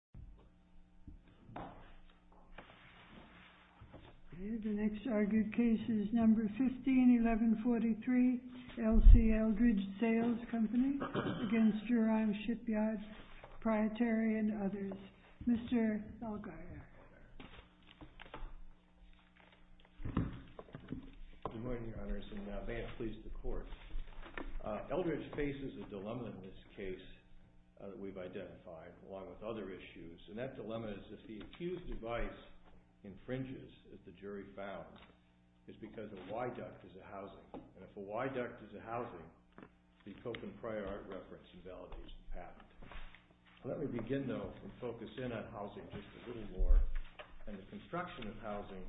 & Co., Ltd. v. Jurong Shipyard Pte. & Co., Ltd. v. Mr. Thalgaier Good morning, Your Honors, and may it please the Court. Eldridge faces a dilemma in this case that we've identified, along with other issues, and that dilemma is if the accused device infringes, as the jury found, it's because a Y-duct is a housing, and if a Y-duct is a housing, the co-conprior reference invalidates the patent. Let me begin, though, and focus in on housing just a little more, and the construction of housing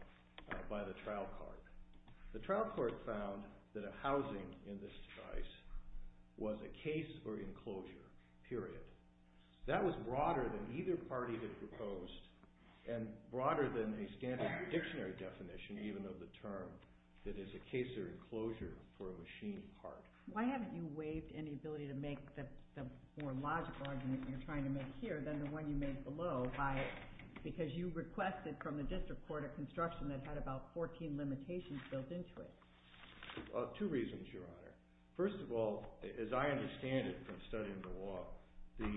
by the trial court. The trial court found that a broader than either party that proposed, and broader than a standard dictionary definition even of the term, that is a case of enclosure for a machine part. Why haven't you waived any ability to make the more logical argument you're trying to make here than the one you made below by, because you requested from the district court a construction that had about 14 limitations built into it. Two reasons, Your Honor. First of all, as I understand it from studying the law, the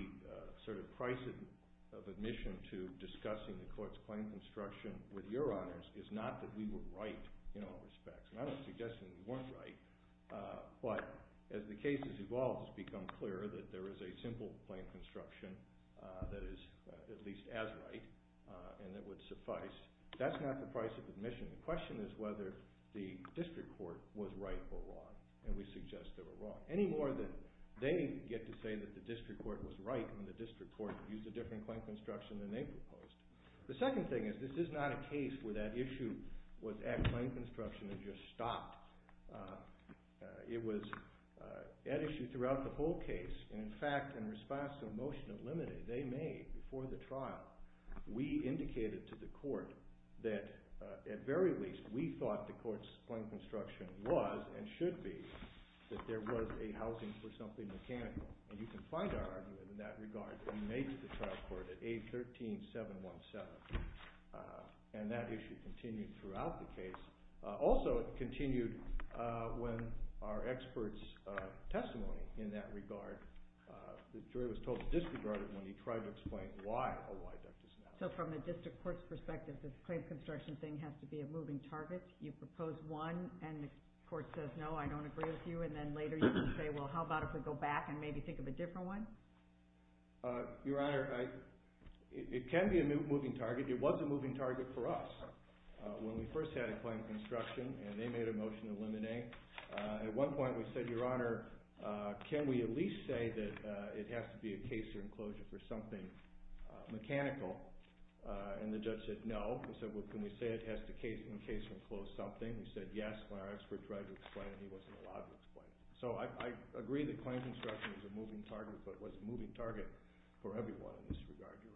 sort of price of admission to discussing the court's claim construction with Your Honors is not that we were right in all respects. And I'm not suggesting we weren't right, but as the case has evolved, it's become clearer that there is a simple claim construction that is at least as right, and that would suffice. That's not the price of admission. The question is whether the district court was right or wrong, and we suggest they were wrong, any more than they get to say that the district court was right when the district court used a different claim construction than they proposed. The second thing is this is not a case where that issue was at claim construction and just stopped. It was at issue throughout the whole case, and in fact, in response to a motion of limited they made before the trial, we indicated to the court that at very least we thought the there was a housing for something mechanical. And you can find our argument in that regard that we made to the trial court at 813-717, and that issue continued throughout the case. Also, it continued when our expert's testimony in that regard, the jury was totally disregarded when he tried to explain why, oh, why that doesn't happen. So from the district court's perspective, this claim construction thing has to be a moving target. You propose one, and the court says, no, I don't agree with you, and then later you can say, well, how about if we go back and maybe think of a different one? Your Honor, it can be a moving target. It was a moving target for us when we first had a claim construction, and they made a motion to eliminate. At one point we said, Your Honor, can we at least say that it has to be a case or enclosure for something mechanical? And the judge said, no. He said, well, can we say it has to be a case or enclosure for something? We said, yes, when our expert tried to explain it, he wasn't allowed to explain it. So I agree that claim construction is a moving target, but it was a moving target for everyone in this regard, Your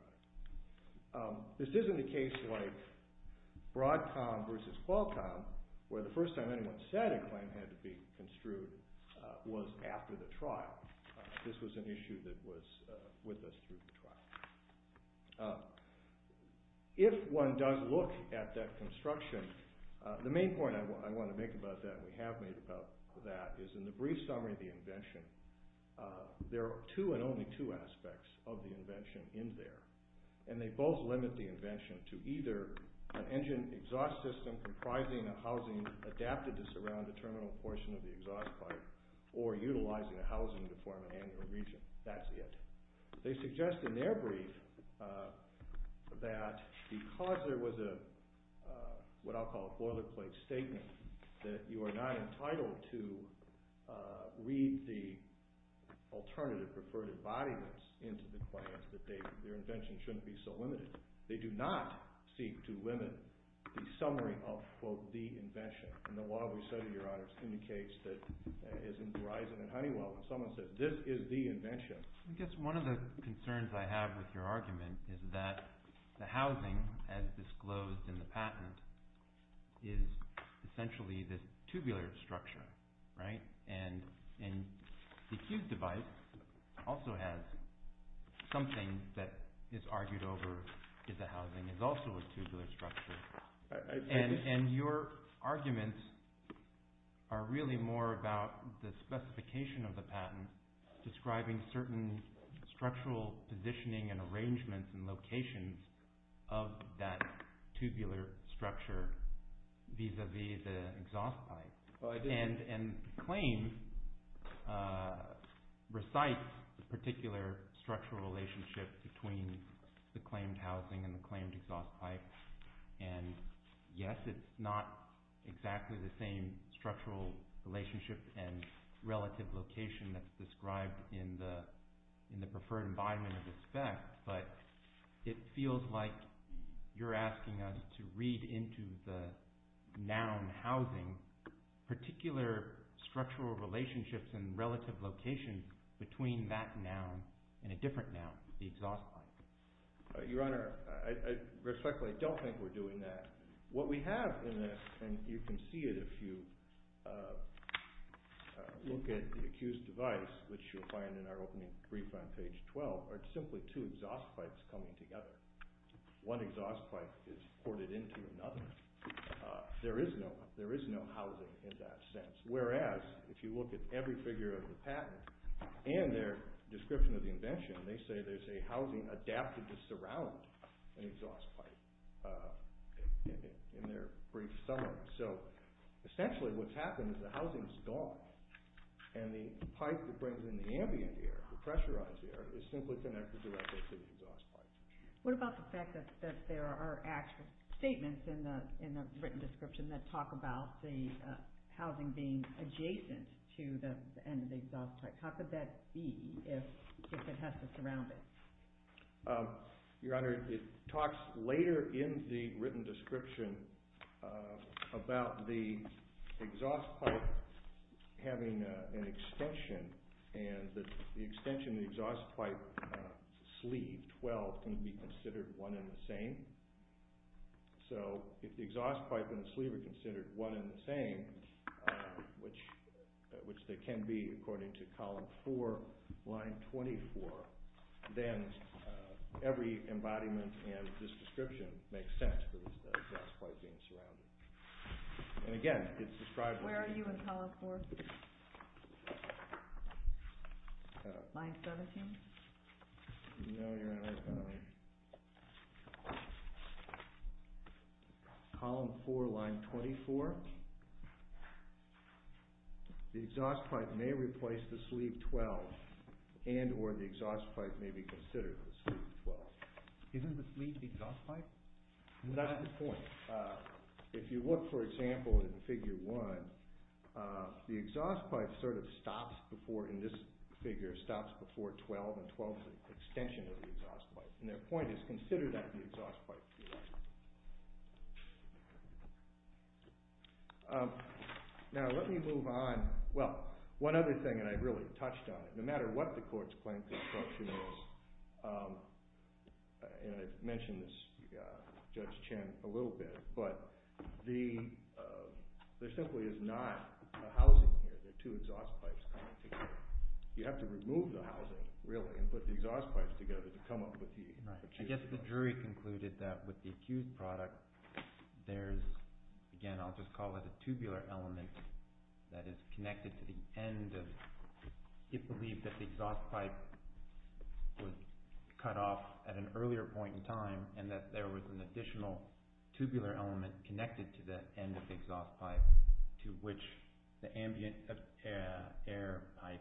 Honor. This isn't a case like Broadcom versus Qualcomm, where the first time anyone said a claim had to be construed was after the trial. This was an issue that was with us through the trial. If one does look at that construction, the main point I want to make about that, we have made about that, is in the brief summary of the invention, there are two and only two aspects of the invention in there, and they both limit the invention to either an engine exhaust system comprising a housing adapted to surround a terminal portion of the exhaust pipe, or utilizing a housing to form an annual region. That's it. They suggest in their brief that because there was a, what I'll call a boilerplate statement, that you are not entitled to read the alternative preferred embodiments into the claims, that their invention shouldn't be so limited. They do not seek to limit the summary of, quote, the invention. And the law we've studied, Your Honor, indicates that, as in Verizon and Honeywell, when someone says, this is the invention. I guess one of the concerns I have with your argument is that the housing, as disclosed in the patent, is essentially this tubular structure, right? And the Q device also has something that is argued over, is the housing is also a tubular structure. And your arguments are really more about the specification of the patent describing certain structural positioning and arrangements and locations of that tubular structure vis-a-vis the exhaust pipe. And the claim recites the particular structural relationship between the claimed housing and the claimed exhaust pipe. And yes, it's not exactly the same structural relationship and relative location that's described in the preferred embodiment of the spec, but it feels like you're asking us to read into the noun housing particular structural relationships and relative locations between that noun and a different noun, the exhaust pipe. Your Honor, I respectfully don't think we're doing that. What we have in this, and you can see it if you look at the accused device, which you'll find in our opening brief on page 12, are simply two exhaust pipes coming together. One exhaust pipe is ported into another. There is no housing in that sense. Whereas, if you look at every figure of the patent and their description of the invention, they say there's a housing adapted to surround an exhaust pipe in their brief summary. So essentially what's happened is the housing is gone and the pipe that brings in the ambient air, the pressurized air, is simply connected directly to the exhaust pipe. What about the fact that there are actual statements in the written description that talk about the housing being adjacent to the end of the exhaust pipe. How could that be if it has to surround it? Your Honor, it talks later in the written description about the exhaust pipe having an extension and the extension of the exhaust pipe sleeve, 12, can be considered one and the same. So if the exhaust pipe and the sleeve are considered one and the same, which they can be according to column 4, line 24, then every embodiment in this description makes sense for the exhaust pipe being surrounded. And again, it's described... Where are you in column 4? Line 17? No, Your Honor. Column 4, line 24. The exhaust pipe may replace the sleeve 12 and or the exhaust pipe may be considered the sleeve 12. Isn't the sleeve the exhaust pipe? That's the point. If you look, for example, in figure 1, the exhaust pipe sort of stops before, in this case, the sleeve 12 and 12's extension of the exhaust pipe. And their point is, consider that the exhaust pipe to be right. Now, let me move on. Well, one other thing, and I really touched on it, no matter what the court's claim to obstruction is, and I've mentioned this to Judge Chen a little bit, but there simply is not a housing here. There are two exhaust pipes coming together. You have to remove the housing, really, and put the exhaust pipes together to come up with the... Right. I guess the jury concluded that with the accused product, there's, again, I'll just call it a tubular element that is connected to the end of... It believed that the exhaust pipe was cut off at an earlier point in time and that there was an additional tubular element connected to the end of the exhaust pipe to which the air pipe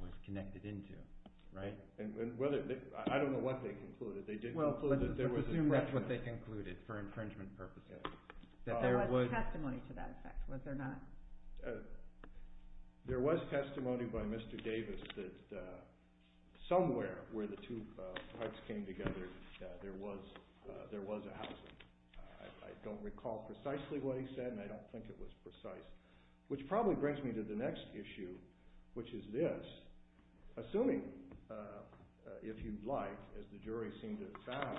was connected into. Right? And whether... I don't know what they concluded. They did conclude that there was... Well, let's assume that's what they concluded for infringement purposes. That there was... There was testimony to that effect, was there not? There was testimony by Mr. Davis that somewhere where the two pipes came together, there was a housing. I don't recall precisely what he said, and I don't think it was precise. Which probably brings me to the next issue, which is this. Assuming, if you'd like, as the jury seemed to have found,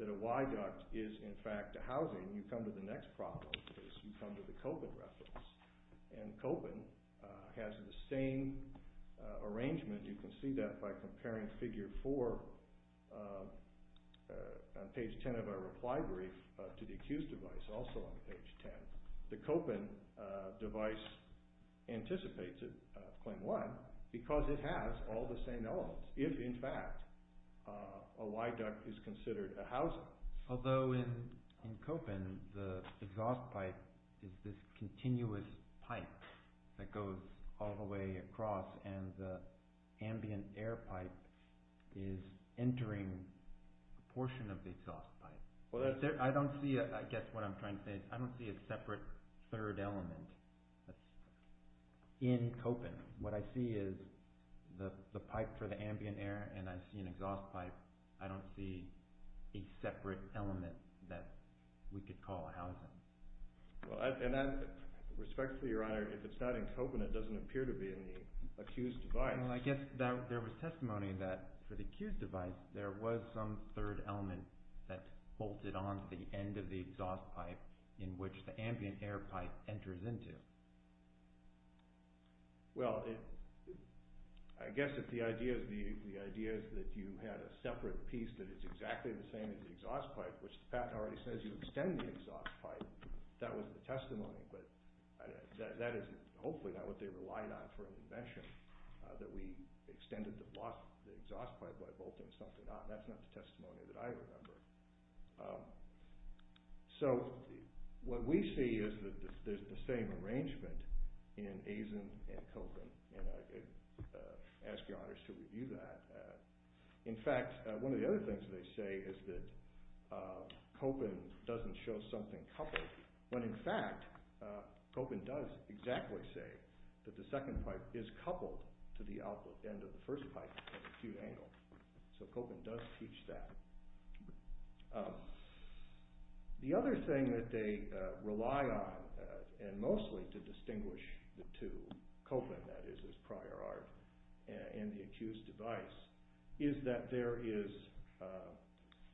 that a Y duct is, in fact, a housing, you come to the next problem, because you come to the Kopin reference. And Kopin has the same arrangement. You can see that by comparing figure four on page 10 of our reply brief to the accused device, also on page 10. The Kopin device anticipates it, claim one, because it has all the same elements. If, in fact, a Y duct is considered a housing. Although in Kopin, the exhaust pipe is this continuous pipe that goes all the way across, and the ambient air pipe is entering a portion of the exhaust pipe. Well, that's... I don't see, I guess what I'm trying to say, I don't see a separate third element in Kopin. What I see is the pipe for the ambient air, and I see an exhaust pipe. I don't see a separate element that we could call a housing. Well, and that, respectfully, Your Honor, if it's not in Kopin, it doesn't appear to be in the accused device. Well, I guess there was testimony that for the accused device, there was some third element that bolted on to the end of the exhaust pipe, in which the ambient air pipe enters into. Well, I guess if the idea is that you had a separate piece that is exactly the same as the exhaust pipe, which the patent already says you extend the exhaust pipe, that was the testimony, but that is hopefully not what they relied on for an invention, that we extended the exhaust pipe by bolting something on. That's not the testimony that I remember. So, what we see is that there's the same arrangement in Eisen and Kopin, and I ask Your Honors to review that. In fact, one of the other things they say is that Kopin doesn't show something coupled, when in fact, Kopin does exactly say that the second pipe is coupled to the output end of the first pipe at a cute angle. So, Kopin does teach that. The other thing that they rely on, and mostly to distinguish the two, Kopin, that is, as prior art, and the accused device, is that there is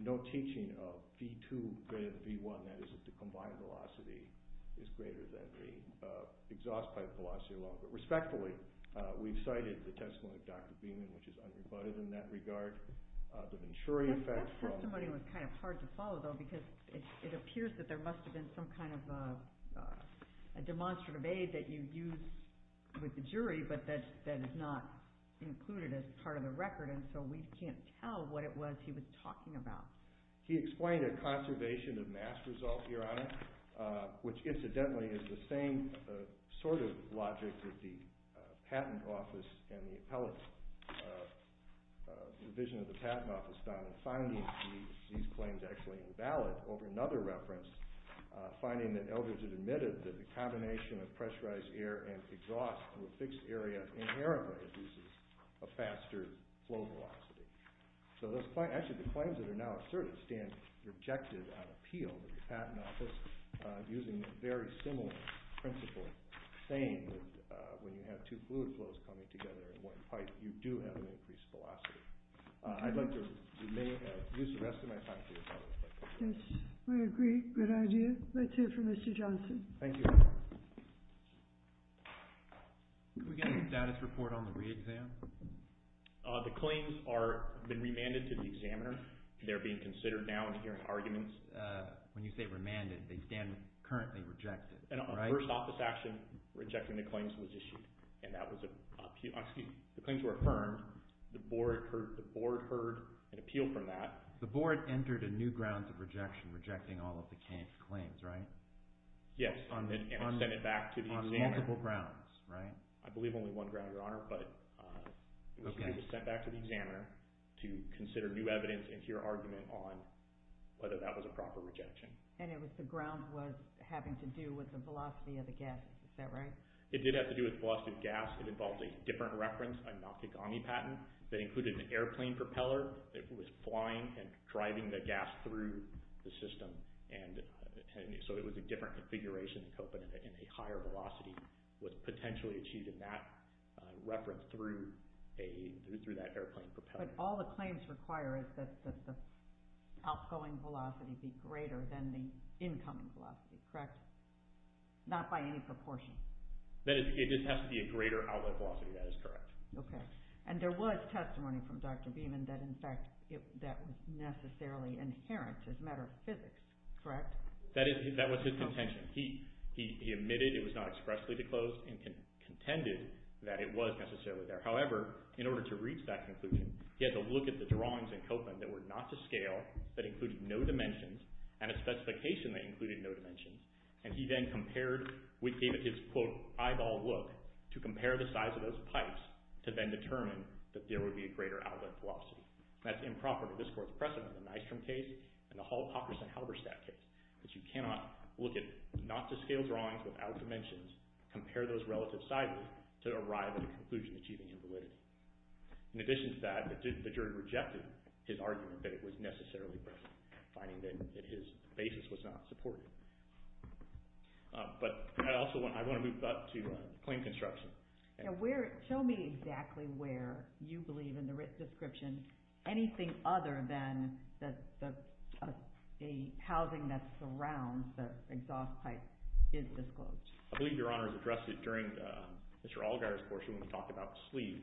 no teaching of V2 greater than V1, that is, that the combined velocity is greater than the exhaust pipe velocity alone. But respectfully, we've cited the testimony of Dr. Beeman, which is unrebutted in that regard. The Venturi effect from... That testimony was kind of hard to follow, though, because it appears that there must have been but that is not included as part of the record, and so we can't tell what it was he was talking about. He explained a conservation of mass result, Your Honor, which, incidentally, is the same sort of logic that the patent office and the appellate division of the patent office found, and finding these claims actually invalid. Over another reference, finding that Eldridge had admitted that the combination of pressurized air and exhaust to a fixed area inherently reduces a faster flow velocity. Actually, the claims that are now asserted stand rejected on appeal by the patent office, using a very similar principle, saying that when you have two fluid flows coming together in one pipe, you do have an increased velocity. I'd like to use the rest of my time to... Yes, we agree. Good idea. Let's hear from Mr. Johnson. Thank you, Your Honor. Could we get a status report on the re-exam? The claims have been remanded to the examiner. They're being considered now and hearing arguments. When you say remanded, they stand currently rejected, right? A first office action rejecting the claims was issued, and that was... Excuse me. The claims were affirmed. The board heard an appeal from that. The board entered a new ground of rejection, rejecting all of the claims, right? Yes, and sent it back to the examiner. On multiple grounds, right? I believe only one ground, Your Honor, but it was sent back to the examiner to consider new evidence and hear argument on whether that was a proper rejection. And if the ground was having to do with the velocity of the gas, is that right? It did have to do with the velocity of the gas. It involves a different reference, a Nakagami patent, that included an airplane propeller that was flying and driving the gas through the system. And so it was a different configuration, and a higher velocity was potentially achieved in that reference through that airplane propeller. But all the claims require is that the outgoing velocity be greater than the incoming velocity, correct? Not by any proportion. It just has to be a greater outlet velocity. That is correct. Okay. And there was testimony from Dr. Beeman that, in fact, that was necessarily inherent as a matter of physics, correct? That was his contention. He admitted it was not expressly disclosed and contended that it was necessarily there. However, in order to reach that conclusion, he had to look at the drawings in Copeland that were not to scale, that included no dimensions, and a specification that included no dimensions. And he then compared with his, quote, eyeball look to compare the size of those pipes to then determine that there would be a greater outlet velocity. That's improper to this Court's precedent in the Nystrom case and the Hall-Pockerson-Halberstadt case, that you cannot look at not-to-scale drawings without dimensions, compare those relative sizes to arrive at a conclusion achieving invalidity. In addition to that, the jury rejected his argument that it was necessarily present, finding that his basis was not supported. But I also want to move up to plane construction. Show me exactly where you believe in the written description anything other than a housing that surrounds the exhaust pipe is disclosed. I believe Your Honor has addressed it during Mr. Allgaier's portion when we talked about the sleeve.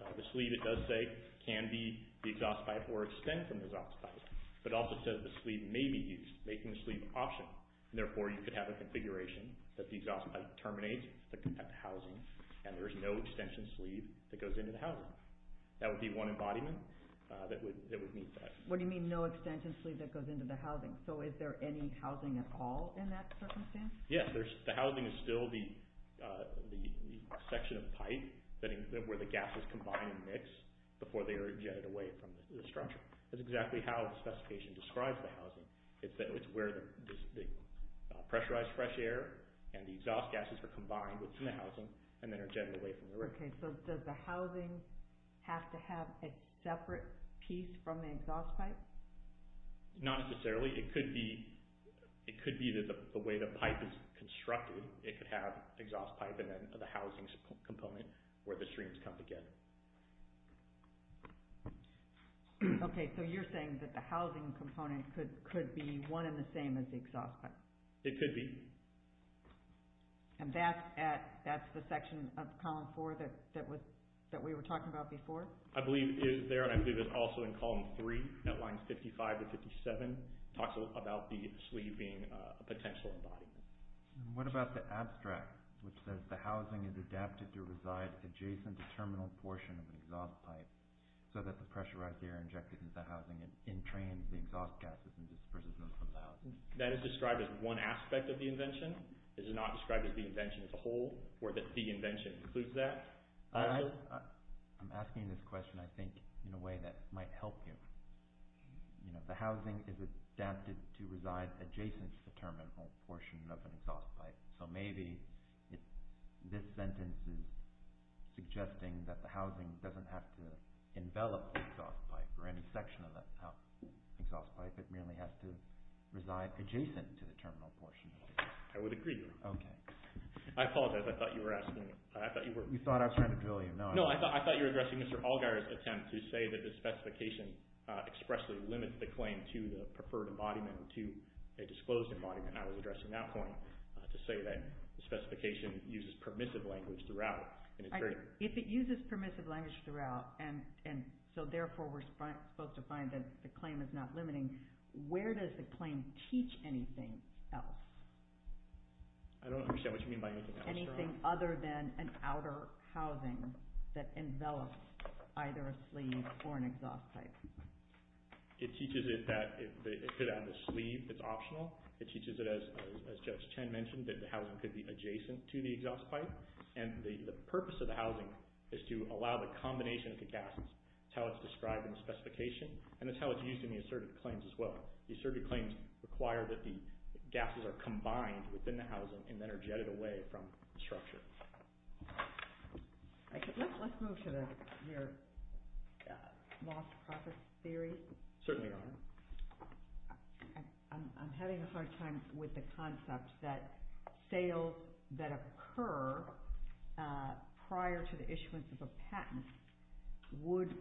The sleeve, it does say, can be the exhaust pipe or extend from the exhaust pipe, but it also says the sleeve may be used, making the sleeve optional. Therefore, you could have a configuration that the exhaust pipe terminates at the housing and there is no extension sleeve that goes into the housing. That would be one embodiment that would meet that. What do you mean no extension sleeve that goes into the housing? So is there any housing at all in that circumstance? Yes, the housing is still the section of pipe where the gases combine and mix before they are ejected away from the structure. That's exactly how the specification describes the housing. It's where the pressurized fresh air and the exhaust gases are combined within the housing and then are ejected away from the roof. Okay, so does the housing have to have a separate piece from the exhaust pipe? Not necessarily. It could be the way the pipe is constructed. It could have exhaust pipe and then the housing component where the streams come together. Okay, so you're saying that the housing component could be one and the same as the exhaust pipe. It could be. And that's the section of Column 4 that we were talking about before? I believe it is there and I believe it's also in Column 3, Netlines 55 to 57. It talks about the sleeve being a potential embodiment. What about the abstract which says the housing is adapted to reside adjacent to terminal portion of an exhaust pipe so that the pressurized air injected into the housing entrains the exhaust gases and disperses them from the housing? That is described as one aspect of the invention? Is it not described as the invention as a whole or that the invention includes that? I'm asking this question, I think, in a way that might help you. The housing is adapted to reside adjacent to the terminal portion of an exhaust pipe. So maybe this sentence is suggesting that the housing doesn't have to envelop the exhaust pipe or any section of the exhaust pipe. It really has to reside adjacent to the terminal portion. I would agree. Okay. I apologize, I thought you were asking. You thought I was trying to drill you. No, I thought you were addressing Mr. Allgaier's attempt to say that the specification expressly limits the claim to the preferred embodiment to a disclosed embodiment. And I was addressing that point to say that the specification uses permissive language throughout. If it uses permissive language throughout, and so therefore we're supposed to find that the claim is not limiting, where does the claim teach anything else? I don't understand what you mean by anything else. Anything other than an outer housing that envelops either a sleeve or an exhaust pipe. It teaches it that if it had a sleeve, it's optional. It teaches it, as Judge Chen mentioned, that the housing could be adjacent to the exhaust pipe. And the purpose of the housing is to allow the combination of the gases. That's how it's described in the specification, and that's how it's used in the asserted claims as well. The asserted claims require that the gases are combined within the housing and then are jetted away from the structure. Let's move to your loss-profit theory. Certainly, Your Honor. I'm having a hard time with the concept that sales that occur prior to the issuance of a patent would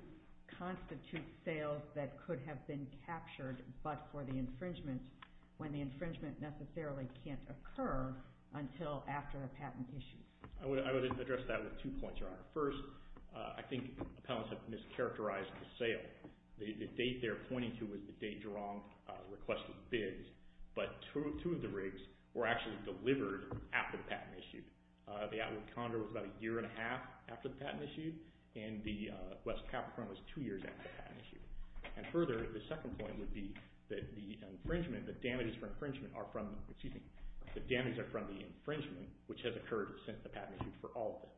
constitute sales that could have been captured but for the infringement when the infringement necessarily can't occur until after a patent issue. I would address that with two points, Your Honor. First, I think appellants have mischaracterized the sale. The date they're pointing to is the date Jerome requested bids, but two of the rigs were actually delivered after the patent issued. The Atwood Condor was about a year and a half after the patent issued, and the West Capron was two years after the patent issued. Further, the second point would be that the infringement, the damages for infringement are from the infringement, which has occurred since the patent issued for all of them.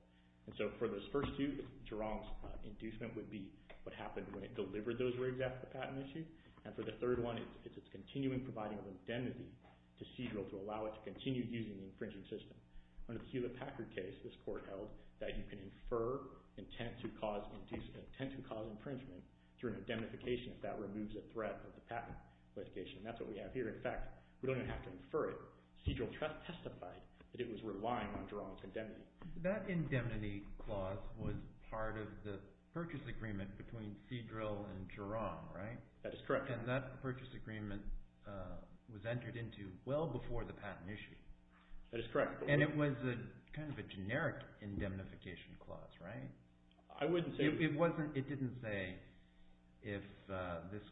For those first two, Jerome's inducement would be what happened when it delivered those rigs after the patent issued, and for the third one, it's its continuing providing of indemnity to CEDRIL to allow it to continue using the infringing system. Under the Hewlett-Packard case, this court held that you can infer intent to cause inducement, intent to cause infringement through an indemnification if that removes a threat of the patent litigation, and that's what we have here. In fact, we don't even have to infer it. CEDRIL testified that it was relying on Jerome's indemnity. That indemnity clause was part of the purchase agreement between CEDRIL and Jerome, right? That is correct. And that purchase agreement was entered into well before the patent issued. That is correct. And it was kind of a generic indemnification clause, right? I wouldn't say… It didn't say, if this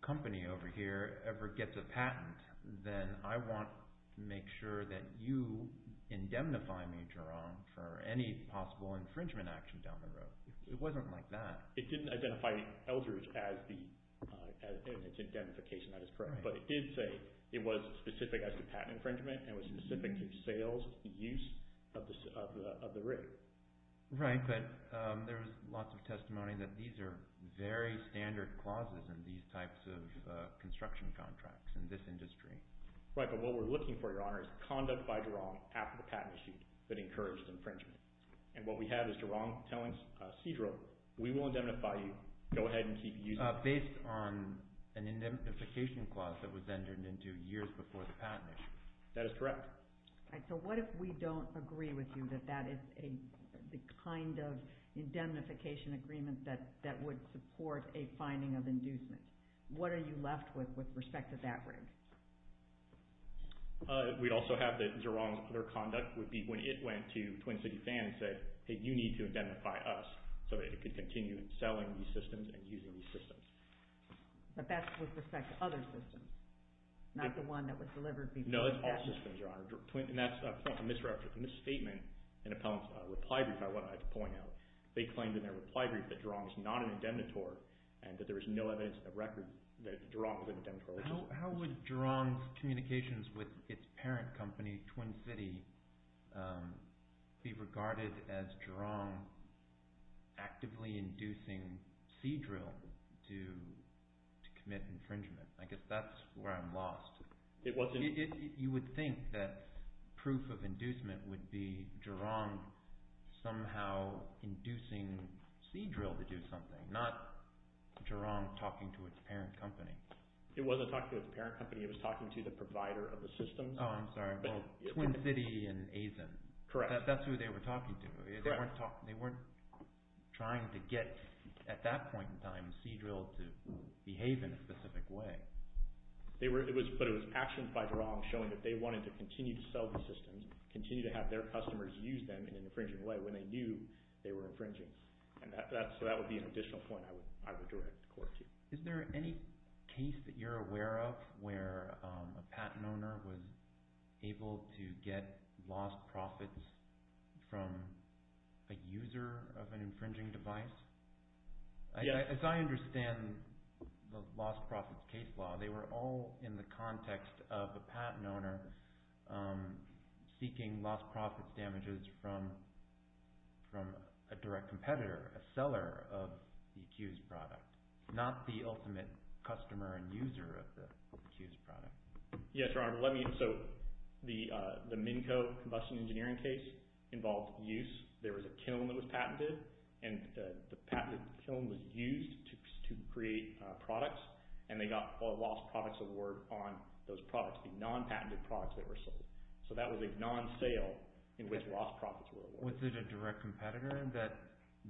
company over here ever gets a patent, then I want to make sure that you indemnify me, Jerome, for any possible infringement action down the road. It wasn't like that. It didn't identify Eldridge as its indemnification. That is correct. But it did say it was specific as to patent infringement and was specific to sales use of the rig. Right, but there was lots of testimony that these are very standard clauses in these types of construction contracts in this industry. Right, but what we're looking for, Your Honor, is conduct by Jerome after the patent issued that encouraged infringement. And what we have is Jerome telling CEDRIL, we will indemnify you. Go ahead and keep using it. Based on an indemnification clause that was entered into years before the patent issued. That is correct. All right, so what if we don't agree with you that that is the kind of indemnification agreement that would support a finding of inducement? What are you left with with respect to that rig? We'd also have that Jerome's other conduct would be when it went to Twin City Fan and said, hey, you need to indemnify us so that it could continue selling these systems and using these systems. But that's with respect to other systems, not the one that was delivered before the patent. No, that's all systems, Your Honor. And that's a misstatement in Appellant's reply brief, I wanted to point out. They claimed in their reply brief that Jerome is not an indemnitor and that there is no evidence in the record that Jerome was an indemnitor. How would Jerome's communications with its parent company, Twin City, be regarded as Jerome actively inducing CEDRIL to commit infringement? I guess that's where I'm lost. You would think that proof of inducement would be Jerome somehow inducing CEDRIL to do something, not Jerome talking to its parent company. It wasn't talking to its parent company. It was talking to the provider of the systems. Oh, I'm sorry. Well, Twin City and Azen. Correct. That's who they were talking to. They weren't trying to get, at that point in time, CEDRIL to behave in a specific way. But it was actions by Jerome showing that they wanted to continue to sell the systems, continue to have their customers use them in an infringing way when they knew they were infringing. So that would be an additional point I would direct the court to. Is there any case that you're aware of where a patent owner was able to get lost profits from a user of an infringing device? Yes. As I understand the lost profits case law, they were all in the context of a patent owner seeking lost profits damages from a direct competitor, a seller of the accused product, not the ultimate customer and user of the accused product. Yes, Your Honor. So the MNCO combustion engineering case involved use. There was a kiln that was patented, and the patented kiln was used to create products, and they got a lost products award on those products, the non-patented products that were sold. So that was a non-sale in which lost profits were awarded. Was it a direct competitor that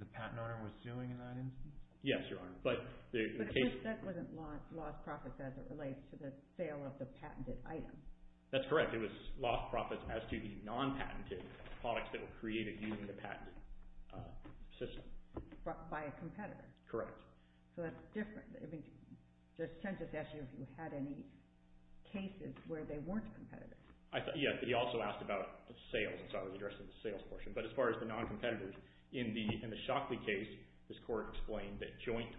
the patent owner was suing in that instance? Yes, Your Honor. But that wasn't lost profits as it relates to the sale of the patented item. That's correct. It was lost profits as to the non-patented products that were created using the patent system. By a competitor. Correct. So that's different. Judge Chen just asked you if you had any cases where they weren't competitors. Yes, but he also asked about sales, and so I was addressing the sales portion. But as far as the non-competitors, in the Shockley case, this court explained that joint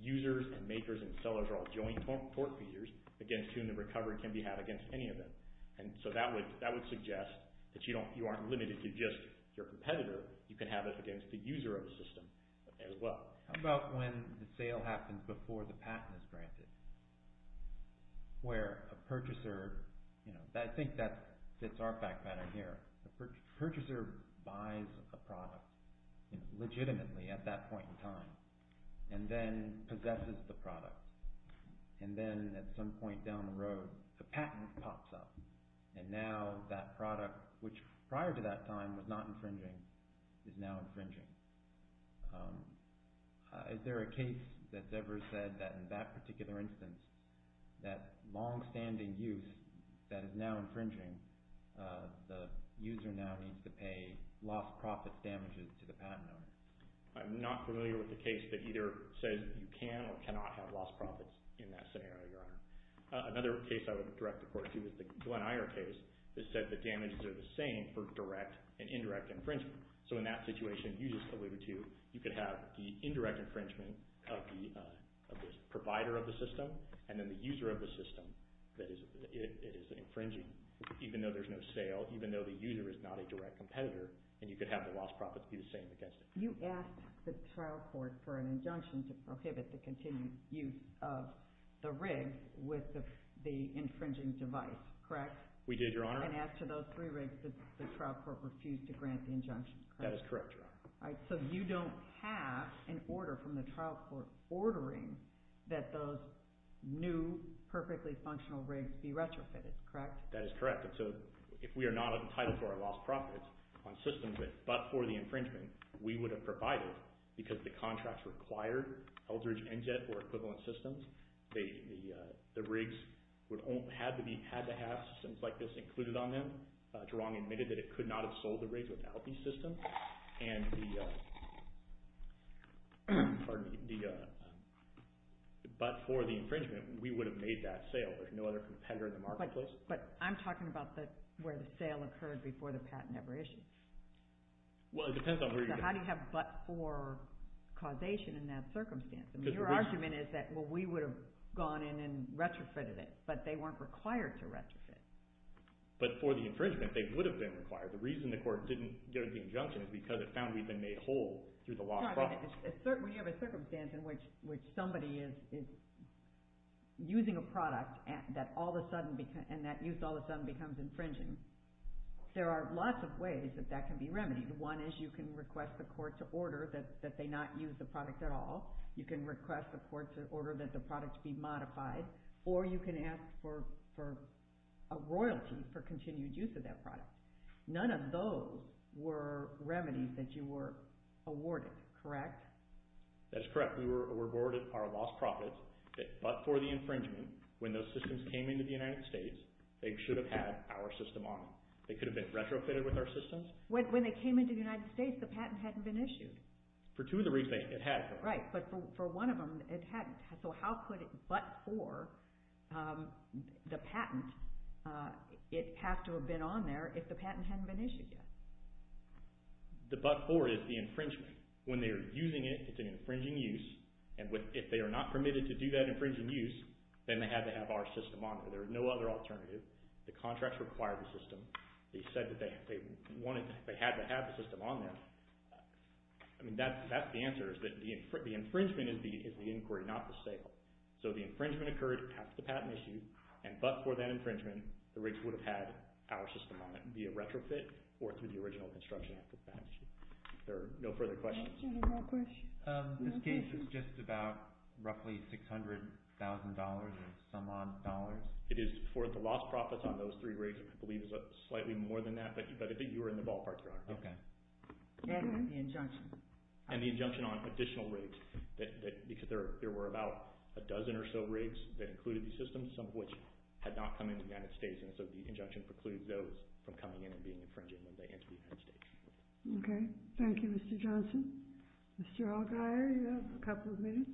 users and makers and sellers are all joint tort users against whom the recovery can be had against any of them. So that would suggest that you aren't limited to just your competitor. You can have it against the user of the system as well. How about when the sale happens before the patent is granted? Where a purchaser, I think that fits our fact pattern here. The purchaser buys a product, legitimately at that point in time, and then possesses the product. And then at some point down the road, the patent pops up. And now that product, which prior to that time was not infringing, is now infringing. Is there a case that's ever said that in that particular instance, that long-standing use that is now infringing, the user now needs to pay lost profit damages to the patent owner? I'm not familiar with the case that either says you can or cannot have lost profits in that scenario, Your Honor. Another case I would direct the court to is the Glen Eyre case that said the damages are the same for direct and indirect infringement. So in that situation, you just alluded to, you could have the indirect infringement of the provider of the system and then the user of the system that it is infringing, even though there's no sale, even though the user is not a direct competitor, and you could have the lost profits be the same against it. You asked the trial court for an injunction to prohibit the continued use of the rig with the infringing device, correct? We did, Your Honor. I can add to those three rigs that the trial court refused to grant the injunction, correct? That is correct, Your Honor. So you don't have an order from the trial court ordering that those new, perfectly functional rigs be retrofitted, correct? That is correct. So if we are not entitled to our lost profits on systems but for the infringement, we would have provided, because the contracts required Eldridge NGET or equivalent systems, the rigs had to have systems like this included on them. Jarong admitted that it could not have sold the rigs without these systems, and the but for the infringement, we would have made that sale. There's no other competitor in the marketplace. But I'm talking about where the sale occurred before the patent ever issued. Well, it depends on where you're talking about. So how do you have but for causation in that circumstance? I mean, your argument is that, well, we would have gone in and retrofitted it, but they weren't required to retrofit. But for the infringement, they would have been required. The reason the court didn't go to the injunction is because it found we'd been made whole through the lost profits. When you have a circumstance in which somebody is using a product and that use all of a sudden becomes infringing, there are lots of ways that that can be remedied. One is you can request the court to order that they not use the product at all. You can request the court to order that the product be modified, or you can ask for a royalty for continued use of that product. None of those were remedies that you were awarded, correct? That's correct. We were awarded our lost profits, but for the infringement, when those systems came into the United States, they should have had our system on them. They could have been retrofitted with our systems. When they came into the United States, the patent hadn't been issued. For two of the reasons, it had been. Right, but for one of them, it hadn't. So how could it, but for the patent, it have to have been on there if the patent hadn't been issued yet? The but for it is the infringement. When they are using it, it's an infringing use, and if they are not permitted to do that infringing use, then they had to have our system on there. There was no other alternative. The contracts required the system. They said that they had to have the system on there. I mean, that's the answer, is that the infringement is the inquiry, not the sale. So the infringement occurred after the patent issue, and but for that infringement, the rigs would have had our system on it, be it retrofit or through the original construction after the patent issue. Are there no further questions? This case is just about roughly $600,000 or some odd dollars. It is for the lost profits on those three rigs, which I believe is slightly more than that, but I think you were in the ballpark, Your Honor. And the injunction. And the injunction on additional rigs, because there were about a dozen or so rigs that included these systems, some of which had not come into the United States, and so the injunction precludes those from coming in and being infringed when they enter the United States. Okay. Thank you, Mr. Johnson. Mr. Allgaier, you have a couple of minutes.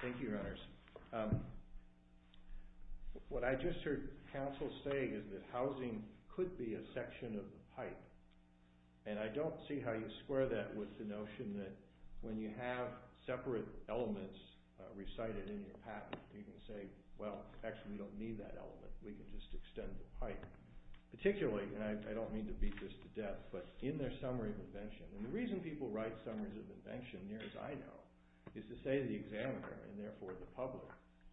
Thank you, Your Honors. What I just heard counsel say is that housing could be a section of the pipe, and I don't see how you square that with the notion that when you have separate elements recited in your patent, you can say, well, actually, we don't need that element. We can just extend the pipe. Particularly, and I don't mean to beat this to death, but in their summary of invention, and the reason people write summaries of invention, near as I know, is to say to the examiner, and therefore the public,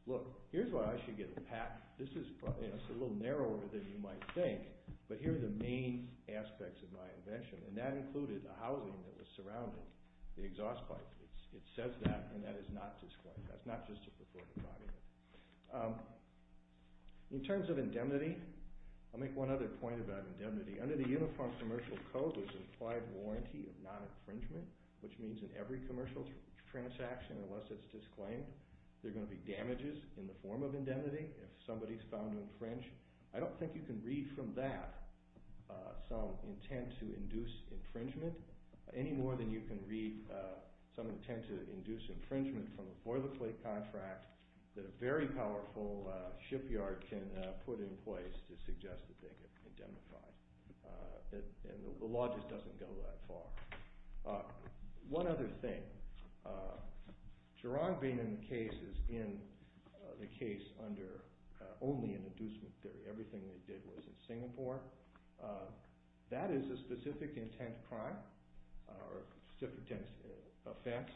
look, here's why I should get a patent. This is a little narrower than you might think, but here are the main aspects of my invention, and that included the housing that was surrounding the exhaust pipe. It says that, and that is not disclaimed. That's not just a performance argument. In terms of indemnity, I'll make one other point about indemnity. Under the Uniform Commercial Code, there's an implied warranty of non-infringement, which means in every commercial transaction, unless it's disclaimed, there are going to be damages in the form of indemnity if somebody is found to infringe. I don't think you can read from that some intent to induce infringement any more than you can read some intent to induce infringement from a boilerplate contract that a very powerful shipyard can put in place to suggest that they get indemnified. The law just doesn't go that far. One other thing. Gerard being in the case is in the case under only an inducement theory. Everything they did was in Singapore. That is a specific intent crime or specific intent offense.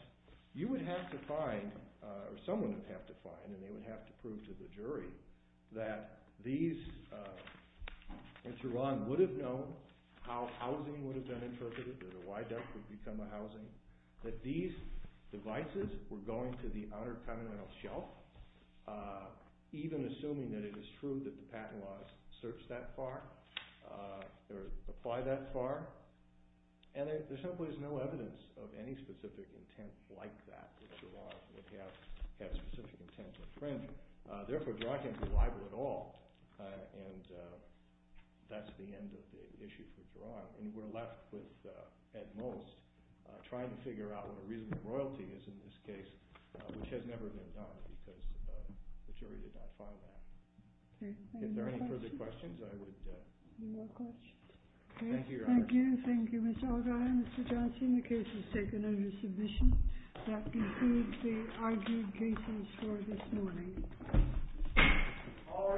You would have to find or someone would have to find and they would have to prove to the jury that these in Tehran would have known how housing would have been interpreted, that a wide deck would become a housing, that these devices were going to the outer continental shelf even assuming that it is true that the patent laws search that far or apply that far. There simply is no evidence of any specific intent like that that Gerard would have had specific intent to infringe. Therefore, Gerard can't be liable at all. That's the end of the issue for Gerard. We're left with, at most, trying to figure out what a reasonable royalty is in this case which has never been done because the jury did not find that. If there are any further questions, I would... Thank you. Thank you. The case is taken under submission. That concludes the argued cases for this morning. All rise.